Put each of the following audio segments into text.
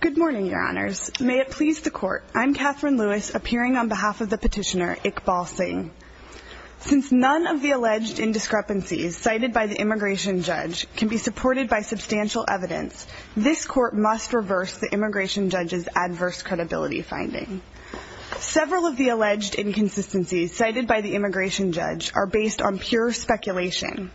Good morning, your honors. May it please the court, I'm Katherine Lewis, appearing on behalf of the petitioner Iqbal Singh. Since none of the alleged indiscrepancies cited by the immigration judge can be supported by substantial evidence, this court must reverse the immigration judge's adverse credibility finding. Several of the alleged inconsistencies cited by the immigration judge are based on pure speculation.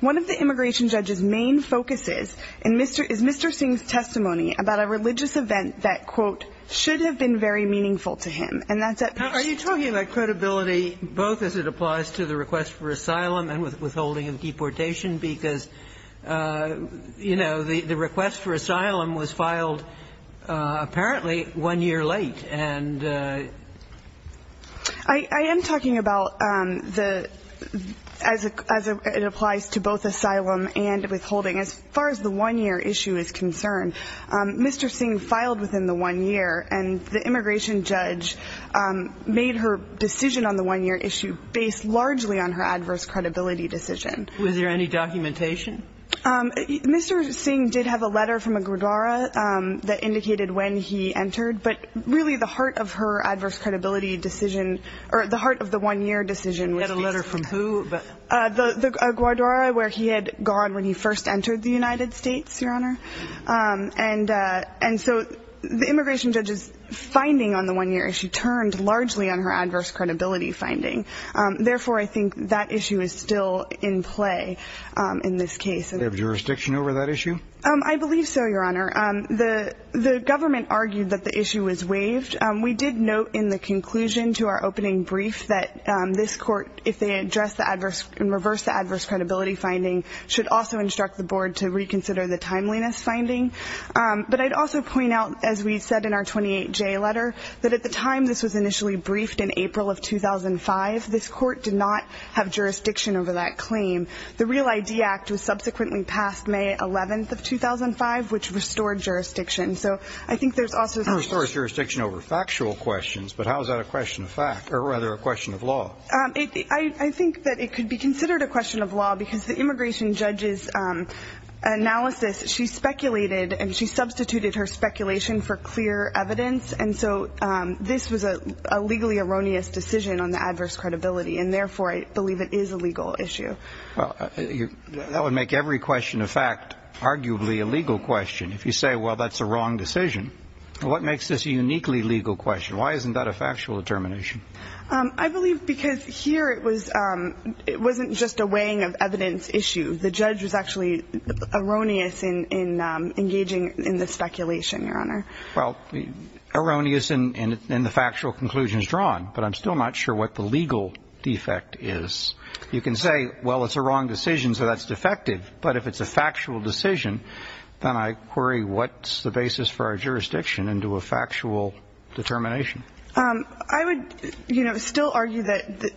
One of the immigration judge's main focuses is Mr. Singh's testimony about a religious event that, quote, should have been very meaningful to him, and that's at best. Are you talking about credibility both as it applies to the request for asylum and withholding of deportation? Because, you know, the request for asylum was filed apparently one year late. And I am talking about the as it applies to both asylum and withholding. As far as the one-year issue is concerned, Mr. Singh filed within the one year, and the immigration judge made her decision on the one-year issue based largely on her adverse credibility decision. Was there any documentation? Mr. Singh did have a letter from a gurdwara that indicated when he entered, but really the heart of her adverse credibility decision or the heart of the one-year decision was the- A letter from who? A gurdwara where he had gone when he first entered the United States, Your Honor. And so the immigration judge's finding on the one-year issue turned largely on her adverse credibility finding. Therefore, I think that issue is still in play in this case. Do you have jurisdiction over that issue? I believe so, Your Honor. The government argued that the issue was waived. We did note in the conclusion to our opening brief that this court, if they address the adverse and reverse the adverse credibility finding, should also instruct the board to reconsider the timeliness finding. But I'd also point out, as we said in our 28J letter, that at the time this was initially briefed in April of 2005, this court did not have jurisdiction over that claim. The Real ID Act was subsequently passed May 11th of 2005, which restored jurisdiction. So I think there's also- It restored jurisdiction over factual questions, but how is that a question of fact, or rather a question of law? I think that it could be considered a question of law because the immigration judge's analysis, she speculated and she substituted her speculation for clear evidence, and so this was a legally erroneous decision on the adverse credibility, and therefore I believe it is a legal issue. That would make every question of fact arguably a legal question. If you say, well, that's a wrong decision, what makes this a uniquely legal question? Why isn't that a factual determination? I believe because here it wasn't just a weighing of evidence issue. The judge was actually erroneous in engaging in the speculation, Your Honor. Well, erroneous in the factual conclusions drawn, but I'm still not sure what the legal defect is. You can say, well, it's a wrong decision, so that's defective. But if it's a factual decision, then I query what's the basis for our jurisdiction into a factual determination. I would, you know, still argue that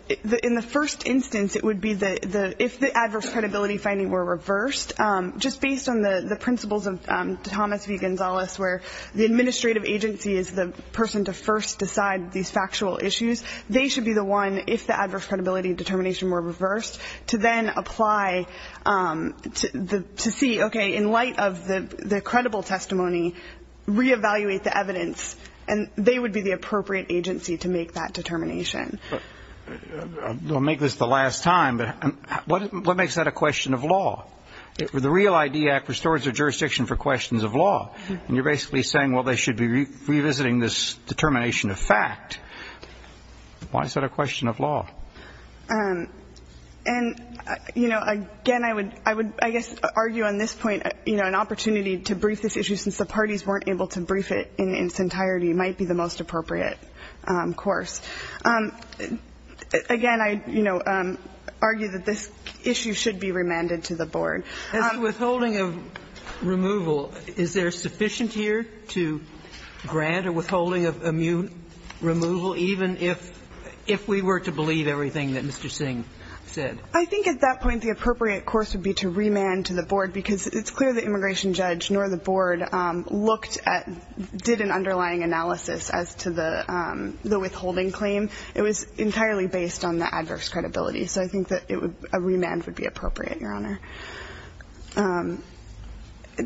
in the first instance it would be if the adverse credibility finding were reversed, just based on the principles of Thomas V. Gonzales, where the administrative agency is the person to first decide these factual issues, they should be the one, if the adverse credibility determination were reversed, to then apply to see, okay, in light of the credible testimony, reevaluate the evidence, and they would be the appropriate agency to make that determination. I'll make this the last time, but what makes that a question of law? The REAL ID Act restores the jurisdiction for questions of law, and you're basically saying, well, they should be revisiting this determination of fact. Why is that a question of law? And, you know, again, I would, I guess, argue on this point, you know, that an opportunity to brief this issue, since the parties weren't able to brief it in its entirety, might be the most appropriate course. Again, I, you know, argue that this issue should be remanded to the board. As to withholding of removal, is there sufficient here to grant a withholding of immune removal, even if we were to believe everything that Mr. Singh said? I think at that point the appropriate course would be to remand to the board, because it's clear the immigration judge nor the board looked at, did an underlying analysis as to the withholding claim. It was entirely based on the adverse credibility, so I think that a remand would be appropriate, Your Honor.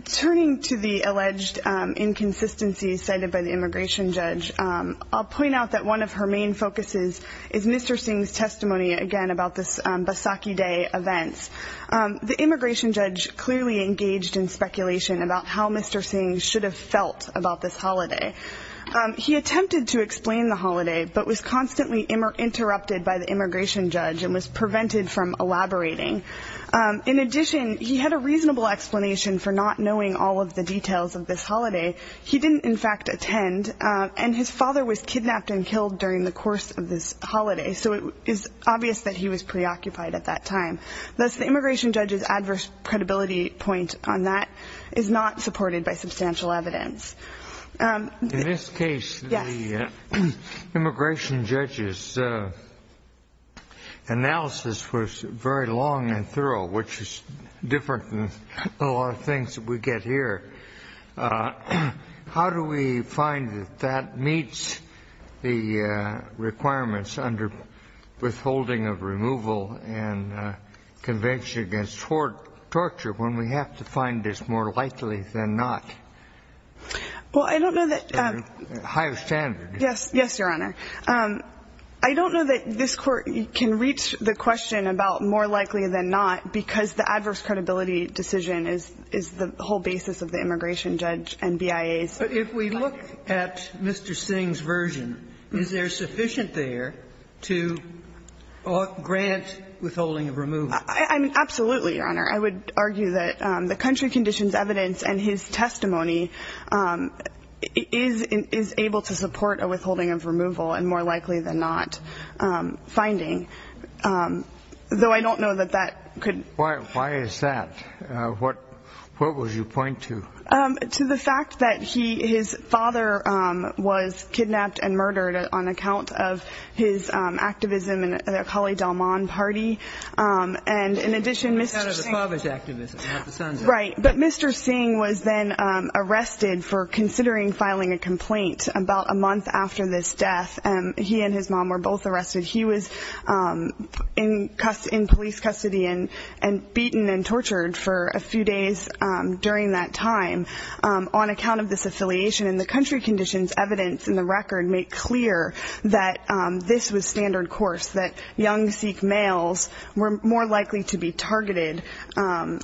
Turning to the alleged inconsistencies cited by the immigration judge, I'll point out that one of her main focuses is Mr. Singh's testimony, again, about this Basaki Day events. The immigration judge clearly engaged in speculation about how Mr. Singh should have felt about this holiday. He attempted to explain the holiday but was constantly interrupted by the immigration judge and was prevented from elaborating. In addition, he had a reasonable explanation for not knowing all of the details of this holiday. He didn't, in fact, attend, and his father was kidnapped and killed during the course of this holiday, so it is obvious that he was preoccupied at that time. Thus, the immigration judge's adverse credibility point on that is not supported by substantial evidence. In this case, the immigration judge's analysis was very long and thorough, which is different than a lot of things that we get here. How do we find that that meets the requirements under withholding of removal and convention against torture when we have to find this more likely than not? Well, I don't know that... Higher standard. Yes, Your Honor. I don't know that this Court can reach the question about more likely than not because the adverse credibility decision is the whole basis of the immigration judge and BIA's... But if we look at Mr. Singh's version, is there sufficient there to grant withholding of removal? I mean, absolutely, Your Honor. I would argue that the country conditions evidence and his testimony is able to support a withholding of removal and more likely than not finding, though I don't know that that could... Why is that? What would you point to? To the fact that his father was kidnapped and murdered on account of his activism in the Kali Dalman party. And in addition, Mr. Singh... On account of the father's activism, not the son's. Right. But Mr. Singh was then arrested for considering filing a complaint about a month after this death. He and his mom were both arrested. He was in police custody and beaten and tortured for a few days during that time on account of this affiliation. And the country conditions evidence in the record make clear that this was standard course, that young Sikh males were more likely to be targeted. And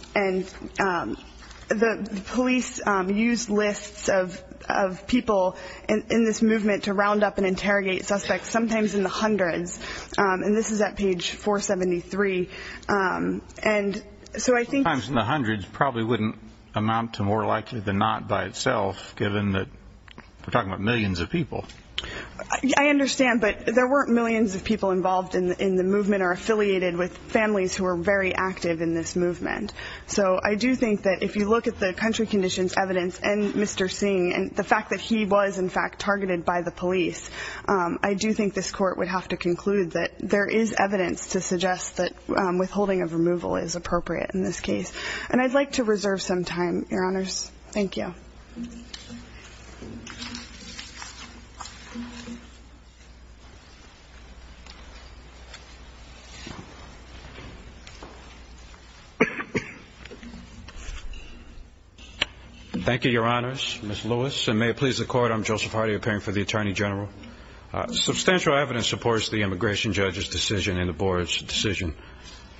the police used lists of people in this movement to round up and interrogate suspects, sometimes in the hundreds, and this is at page 473. And so I think... Sometimes in the hundreds probably wouldn't amount to more likely than not by itself, given that we're talking about millions of people. I understand, but there weren't millions of people involved in the movement or affiliated with families who were very active in this movement. So I do think that if you look at the country conditions evidence and Mr. Singh and the fact that he was, in fact, targeted by the police, I do think this court would have to conclude that there is evidence to suggest that withholding of removal is appropriate in this case. And I'd like to reserve some time, Your Honors. Thank you. Thank you. Thank you, Your Honors. Ms. Lewis, and may it please the Court, I'm Joseph Hardy, appearing for the Attorney General. Substantial evidence supports the immigration judge's decision and the board's decision.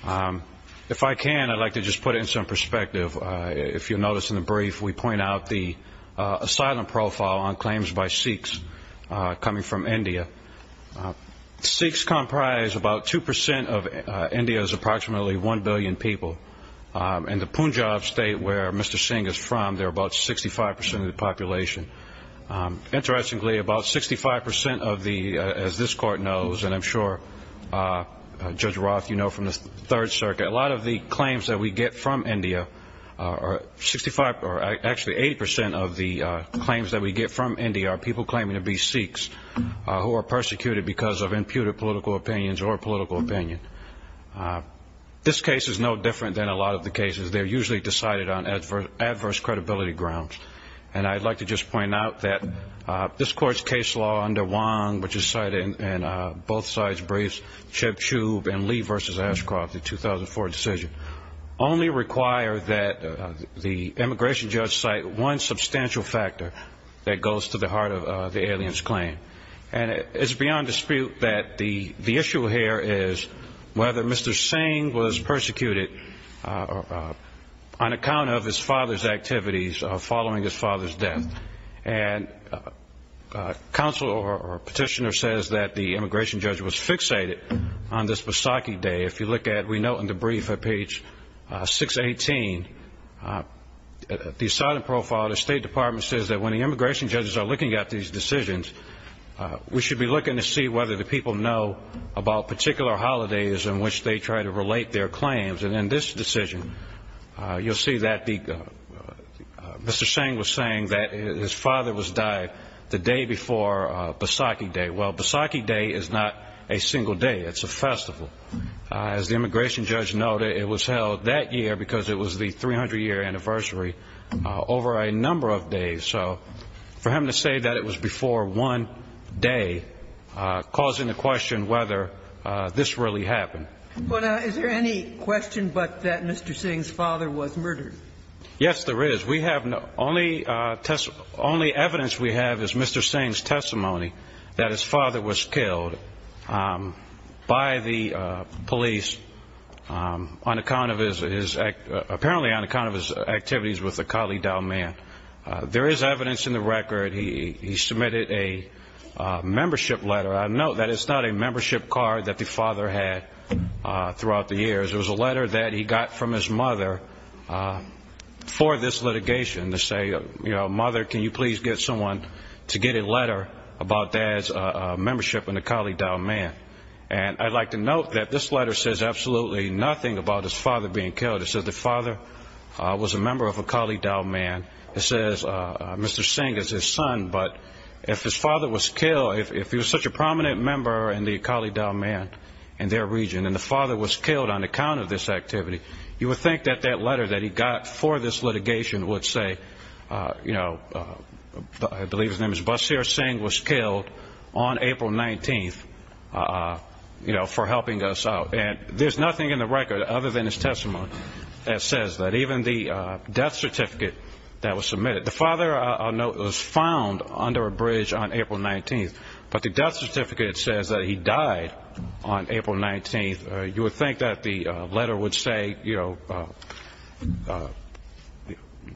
If I can, I'd like to just put it in some perspective. If you'll notice in the brief, we point out the asylum profile on claims by Sikhs coming from India. Sikhs comprise about 2% of India's approximately 1 billion people. In the Punjab state where Mr. Singh is from, they're about 65% of the population. Interestingly, about 65% of the, as this Court knows, and I'm sure Judge Roth, you know from the Third Circuit, a lot of the claims that we get from India are 65, or actually 80% of the claims that we get from India are people claiming to be Sikhs who are persecuted because of imputed political opinions or political opinion. This case is no different than a lot of the cases. They're usually decided on adverse credibility grounds. And I'd like to just point out that this Court's case law under Wong, which is cited in both sides' briefs, and Lee v. Ashcroft, the 2004 decision, only require that the immigration judge cite one substantial factor that goes to the heart of the alien's claim. And it's beyond dispute that the issue here is whether Mr. Singh was persecuted on account of his father's activities following his father's death. And counsel or petitioner says that the immigration judge was fixated on this Vaisakhi Day. If you look at, we note in the brief at page 618, the asylum profile, the State Department says that when the immigration judges are looking at these decisions, we should be looking to see whether the people know about particular holidays in which they try to relate their claims. And in this decision, you'll see that Mr. Singh was saying that his father was died the day before Vaisakhi Day. Well, Vaisakhi Day is not a single day. It's a festival. As the immigration judge noted, it was held that year because it was the 300-year anniversary over a number of days. So for him to say that it was before one day, causing the question whether this really happened. But is there any question but that Mr. Singh's father was murdered? Yes, there is. We have no – only evidence we have is Mr. Singh's testimony that his father was killed by the police on account of his – apparently on account of his activities with the Kalidaw man. There is evidence in the record. He submitted a membership letter. I note that it's not a membership card that the father had throughout the years. It was a letter that he got from his mother for this litigation to say, you know, mother, can you please get someone to get a letter about dad's membership in the Kalidaw man. And I'd like to note that this letter says absolutely nothing about his father being killed. It says the father was a member of a Kalidaw man. It says Mr. Singh is his son. But if his father was killed, if he was such a prominent member in the Kalidaw man in their region and the father was killed on account of this activity, you would think that that letter that he got for this litigation would say, you know, I believe his name is Basir Singh was killed on April 19th, you know, for helping us out. And there's nothing in the record other than his testimony that says that. Even the death certificate that was submitted. The father, I note, was found under a bridge on April 19th. But the death certificate says that he died on April 19th. You would think that the letter would say, you know,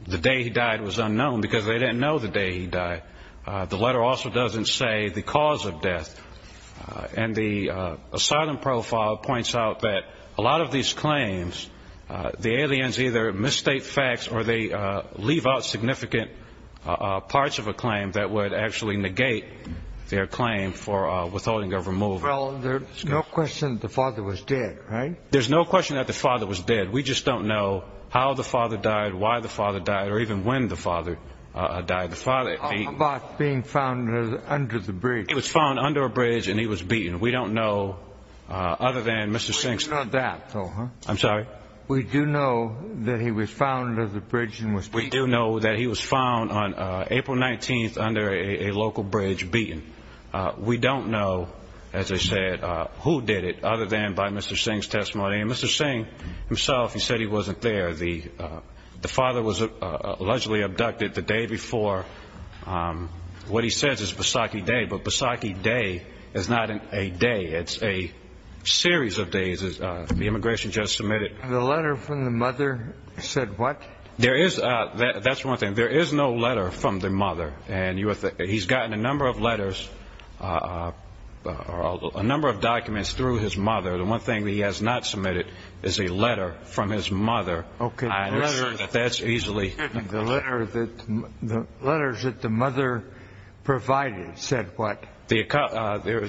the day he died was unknown because they didn't know the day he died. The letter also doesn't say the cause of death. And the asylum profile points out that a lot of these claims, the aliens either misstate facts or they leave out significant parts of a claim that would actually negate their claim for withholding of removal. Well, there's no question the father was dead, right? There's no question that the father was dead. We just don't know how the father died, why the father died or even when the father died. The father being found under the bridge. He was found under a bridge and he was beaten. We don't know other than Mr. Sinks. I'm sorry. We do know that he was found under the bridge and was beaten. We do know that he was found on April 19th under a local bridge beaten. We don't know, as I said, who did it other than by Mr. Singh's testimony. And Mr. Singh himself, he said he wasn't there. The father was allegedly abducted the day before. What he says is Pasakhi Day, but Pasakhi Day is not a day. It's a series of days. The immigration judge submitted. The letter from the mother said what? That's one thing. There is no letter from the mother. And he's gotten a number of letters or a number of documents through his mother. The one thing that he has not submitted is a letter from his mother. Okay. That's easily. The letters that the mother provided said what? The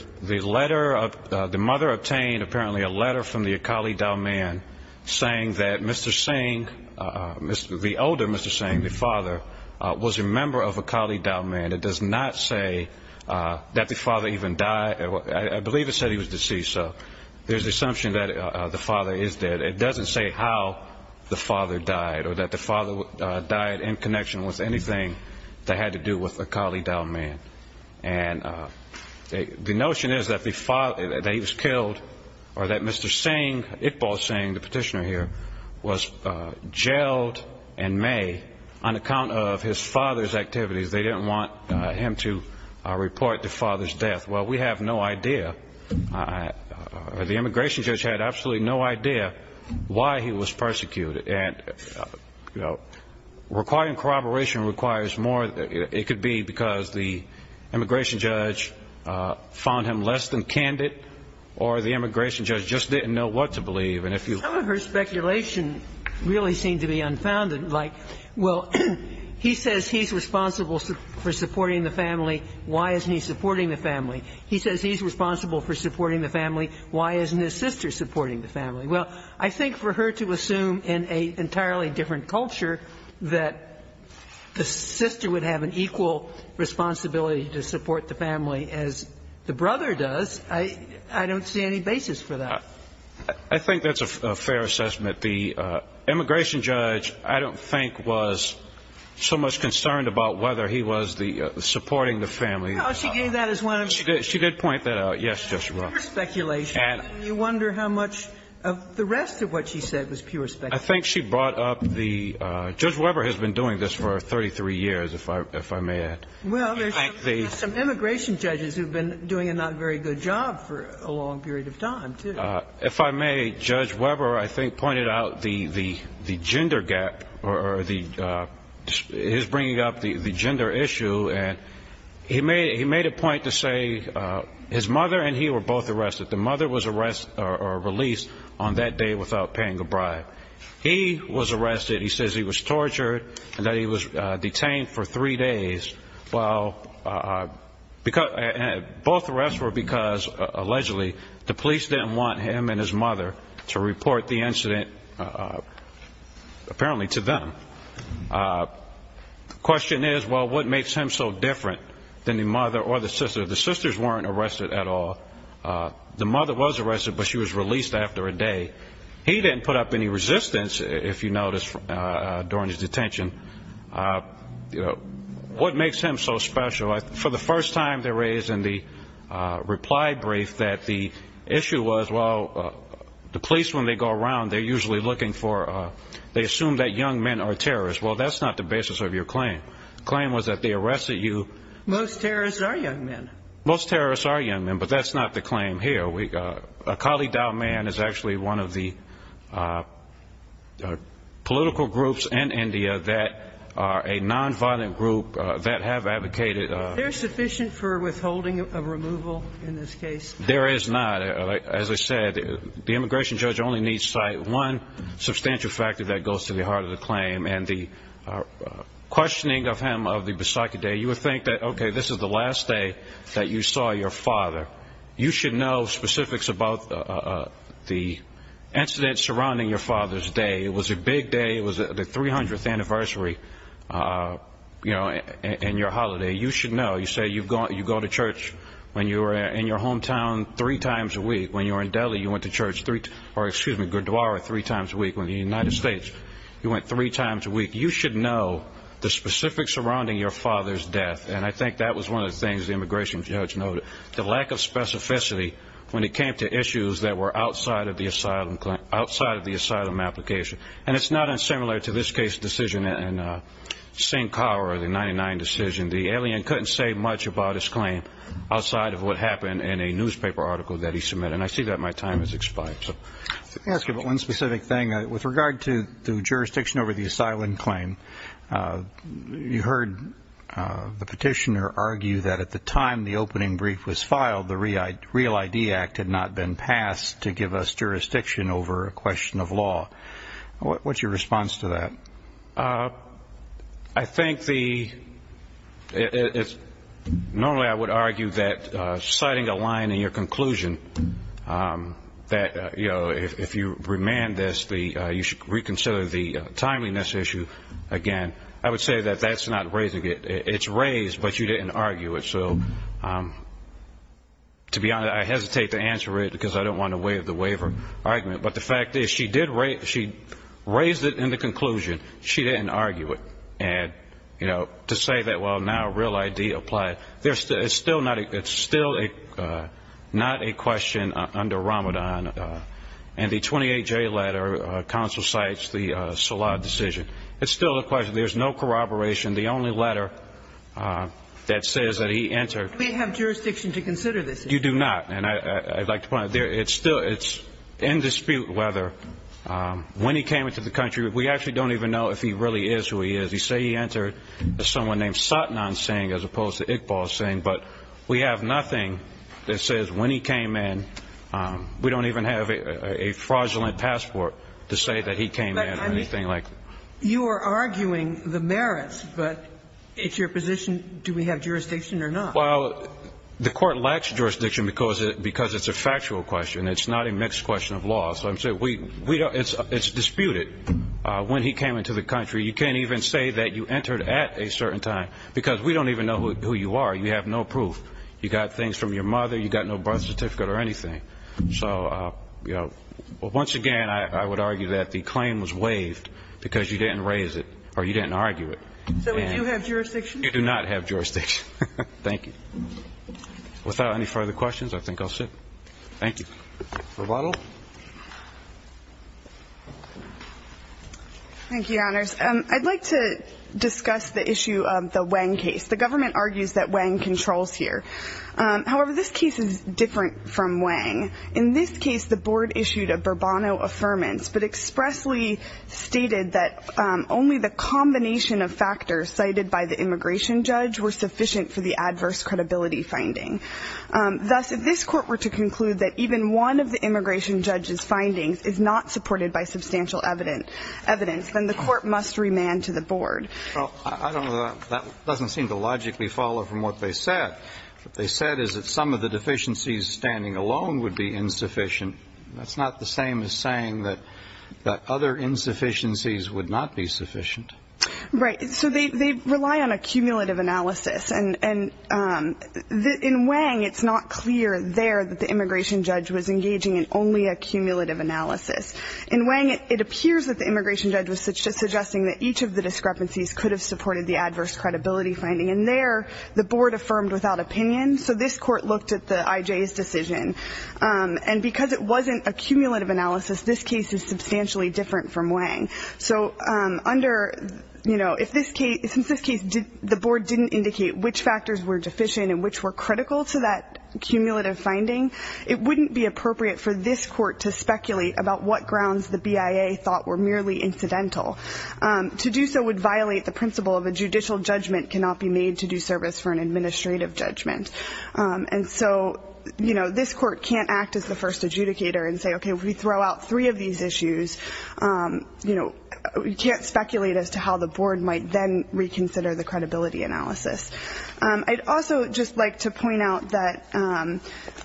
mother obtained apparently a letter from the Akali Dalman saying that Mr. Singh, the older Mr. Singh, the father, was a member of Akali Dalman. It does not say that the father even died. I believe it said he was deceased. So there's the assumption that the father is dead. It doesn't say how the father died or that the father died in connection with anything that had to do with Akali Dalman. And the notion is that he was killed or that Mr. Singh, Iqbal Singh, the petitioner here, was jailed in May on account of his father's activities. They didn't want him to report the father's death. Well, we have no idea. The immigration judge had absolutely no idea why he was persecuted. And, you know, requiring corroboration requires more. It could be because the immigration judge found him less than candid or the immigration judge just didn't know what to believe. And if you. Some of her speculation really seemed to be unfounded. Like, well, he says he's responsible for supporting the family. Why isn't he supporting the family? He says he's responsible for supporting the family. Why isn't his sister supporting the family? Well, I think for her to assume in an entirely different culture that the sister would have an equal responsibility to support the family as the brother does, I don't see any basis for that. I think that's a fair assessment. The immigration judge, I don't think, was so much concerned about whether he was the supporting the family. No, she gave that as one of the. She did point that out. Yes, Justice Breyer. Pure speculation. And you wonder how much of the rest of what she said was pure speculation. I think she brought up the. Judge Weber has been doing this for 33 years, if I may add. Well, there's some immigration judges who have been doing a not very good job for a long period of time, too. If I may, Judge Weber, I think, pointed out the gender gap or his bringing up the gender issue. And he made a point to say his mother and he were both arrested. The mother was released on that day without paying a bribe. He was arrested. He says he was tortured and that he was detained for three days. Well, both arrests were because, allegedly, the police didn't want him and his mother to report the incident, apparently, to them. The question is, well, what makes him so different than the mother or the sister? The sisters weren't arrested at all. The mother was arrested, but she was released after a day. He didn't put up any resistance, if you notice, during his detention. What makes him so special? For the first time, they raised in the reply brief that the issue was, well, the police, when they go around, they're usually looking for ‑‑ they assume that young men are terrorists. Well, that's not the basis of your claim. The claim was that they arrested you. Most terrorists are young men. Most terrorists are young men, but that's not the claim here. A Kalidaw man is actually one of the political groups in India that are a nonviolent group that have advocated ‑‑ Is there sufficient for withholding a removal in this case? There is not. As I said, the immigration judge only needs to cite one substantial factor that goes to the heart of the claim, and the questioning of him of the Bisaki Day. You would think that, okay, this is the last day that you saw your father. You should know specifics about the incidents surrounding your father's day. It was a big day. It was the 300th anniversary, you know, and your holiday. You should know. You say you go to church when you were in your hometown three times a week. When you were in Delhi, you went to church three ‑‑ or, excuse me, Gurdwara three times a week. When you were in the United States, you went three times a week. You should know the specifics surrounding your father's death, and I think that was one of the things the immigration judge noted. The lack of specificity when it came to issues that were outside of the asylum application, and it's not unsimilar to this case decision and Singh Kaur, the 99 decision. The alien couldn't say much about his claim outside of what happened in a newspaper article that he submitted, and I see that my time has expired. Let me ask you about one specific thing. With regard to the jurisdiction over the asylum claim, you heard the petitioner argue that at the time the opening brief was filed, the Real ID Act had not been passed to give us jurisdiction over a question of law. What's your response to that? I think the ‑‑ normally I would argue that citing a line in your conclusion that, you know, if you remand this, you should reconsider the timeliness issue again. I would say that that's not raising it. It's raised, but you didn't argue it. So, to be honest, I hesitate to answer it because I don't want to waive the waiver argument, but the fact is she did raise it in the conclusion. She didn't argue it. And, you know, to say that, well, now Real ID applied, it's still not a question under Ramadan. And the 28J letter counsel cites the Salah decision. It's still a question. There's no corroboration. The only letter that says that he entered ‑‑ We have jurisdiction to consider this issue. You do not. And I'd like to point out, it's still ‑‑ it's in dispute whether when he came into the country, we actually don't even know if he really is who he is. You say he entered as someone named Satnan Singh as opposed to Iqbal Singh, but we have nothing that says when he came in. We don't even have a fraudulent passport to say that he came in or anything like that. You are arguing the merits, but it's your position, do we have jurisdiction or not? Well, the court lacks jurisdiction because it's a factual question. It's not a mixed question of law. So I'm saying we don't ‑‑ it's disputed when he came into the country. You can't even say that you entered at a certain time because we don't even know who you are. You have no proof. You got things from your mother. You got no birth certificate or anything. So, you know, once again, I would argue that the claim was waived because you didn't raise it or you didn't argue it. So do you have jurisdiction? You do not have jurisdiction. Thank you. Without any further questions, I think I'll sit. Thank you. Roboto. Thank you, Your Honors. I'd like to discuss the issue of the Wang case. The government argues that Wang controls here. However, this case is different from Wang. In this case, the board issued a Bourbonno Affirmance, but expressly stated that only the combination of factors cited by the immigration judge were sufficient for the adverse credibility finding. Thus, if this court were to conclude that even one of the immigration judge's findings is not supported by substantial evidence, then the court must remand to the board. Well, I don't know. That doesn't seem to logically follow from what they said. What they said is that some of the deficiencies standing alone would be insufficient. That's not the same as saying that other insufficiencies would not be sufficient. Right. So they rely on a cumulative analysis. And in Wang, it's not clear there that the immigration judge was engaging in only a cumulative analysis. In Wang, it appears that the immigration judge was suggesting that each of the discrepancies could have supported the adverse credibility finding. And there, the board affirmed without opinion. So this court looked at the IJ's decision. And because it wasn't a cumulative analysis, this case is substantially different from Wang. So under, you know, if this case, since this case, the board didn't indicate which factors were deficient and which were critical to that cumulative finding, it wouldn't be appropriate for this court to speculate about what grounds the BIA thought were merely incidental. To do so would violate the principle of a judicial judgment cannot be made to do service for an administrative judgment. And so, you know, this court can't act as the first adjudicator and say, okay, if we throw out three of these issues, you know, we can't speculate as to how the board might then reconsider the credibility analysis. I'd also just like to point out that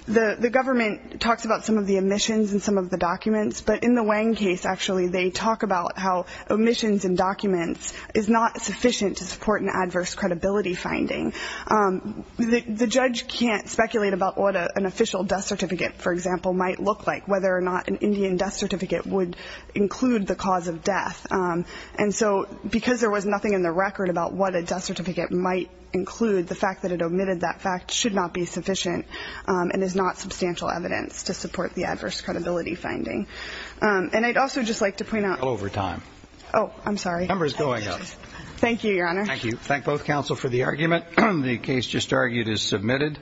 the government talks about some of the omissions and some of the documents. But in the Wang case, actually, they talk about how omissions and documents is not sufficient to support an adverse credibility finding. The judge can't speculate about what an official death certificate, for example, might look like, whether or not an Indian death certificate would include the cause of death. And so because there was nothing in the record about what a death certificate might include, the fact that it omitted that fact should not be sufficient and is not substantial evidence to support the adverse credibility finding. And I'd also just like to point out. Over time. Oh, I'm sorry. Number is going up. Thank you, Your Honor. Thank you. Thank both counsel for the argument. The case just argued is submitted.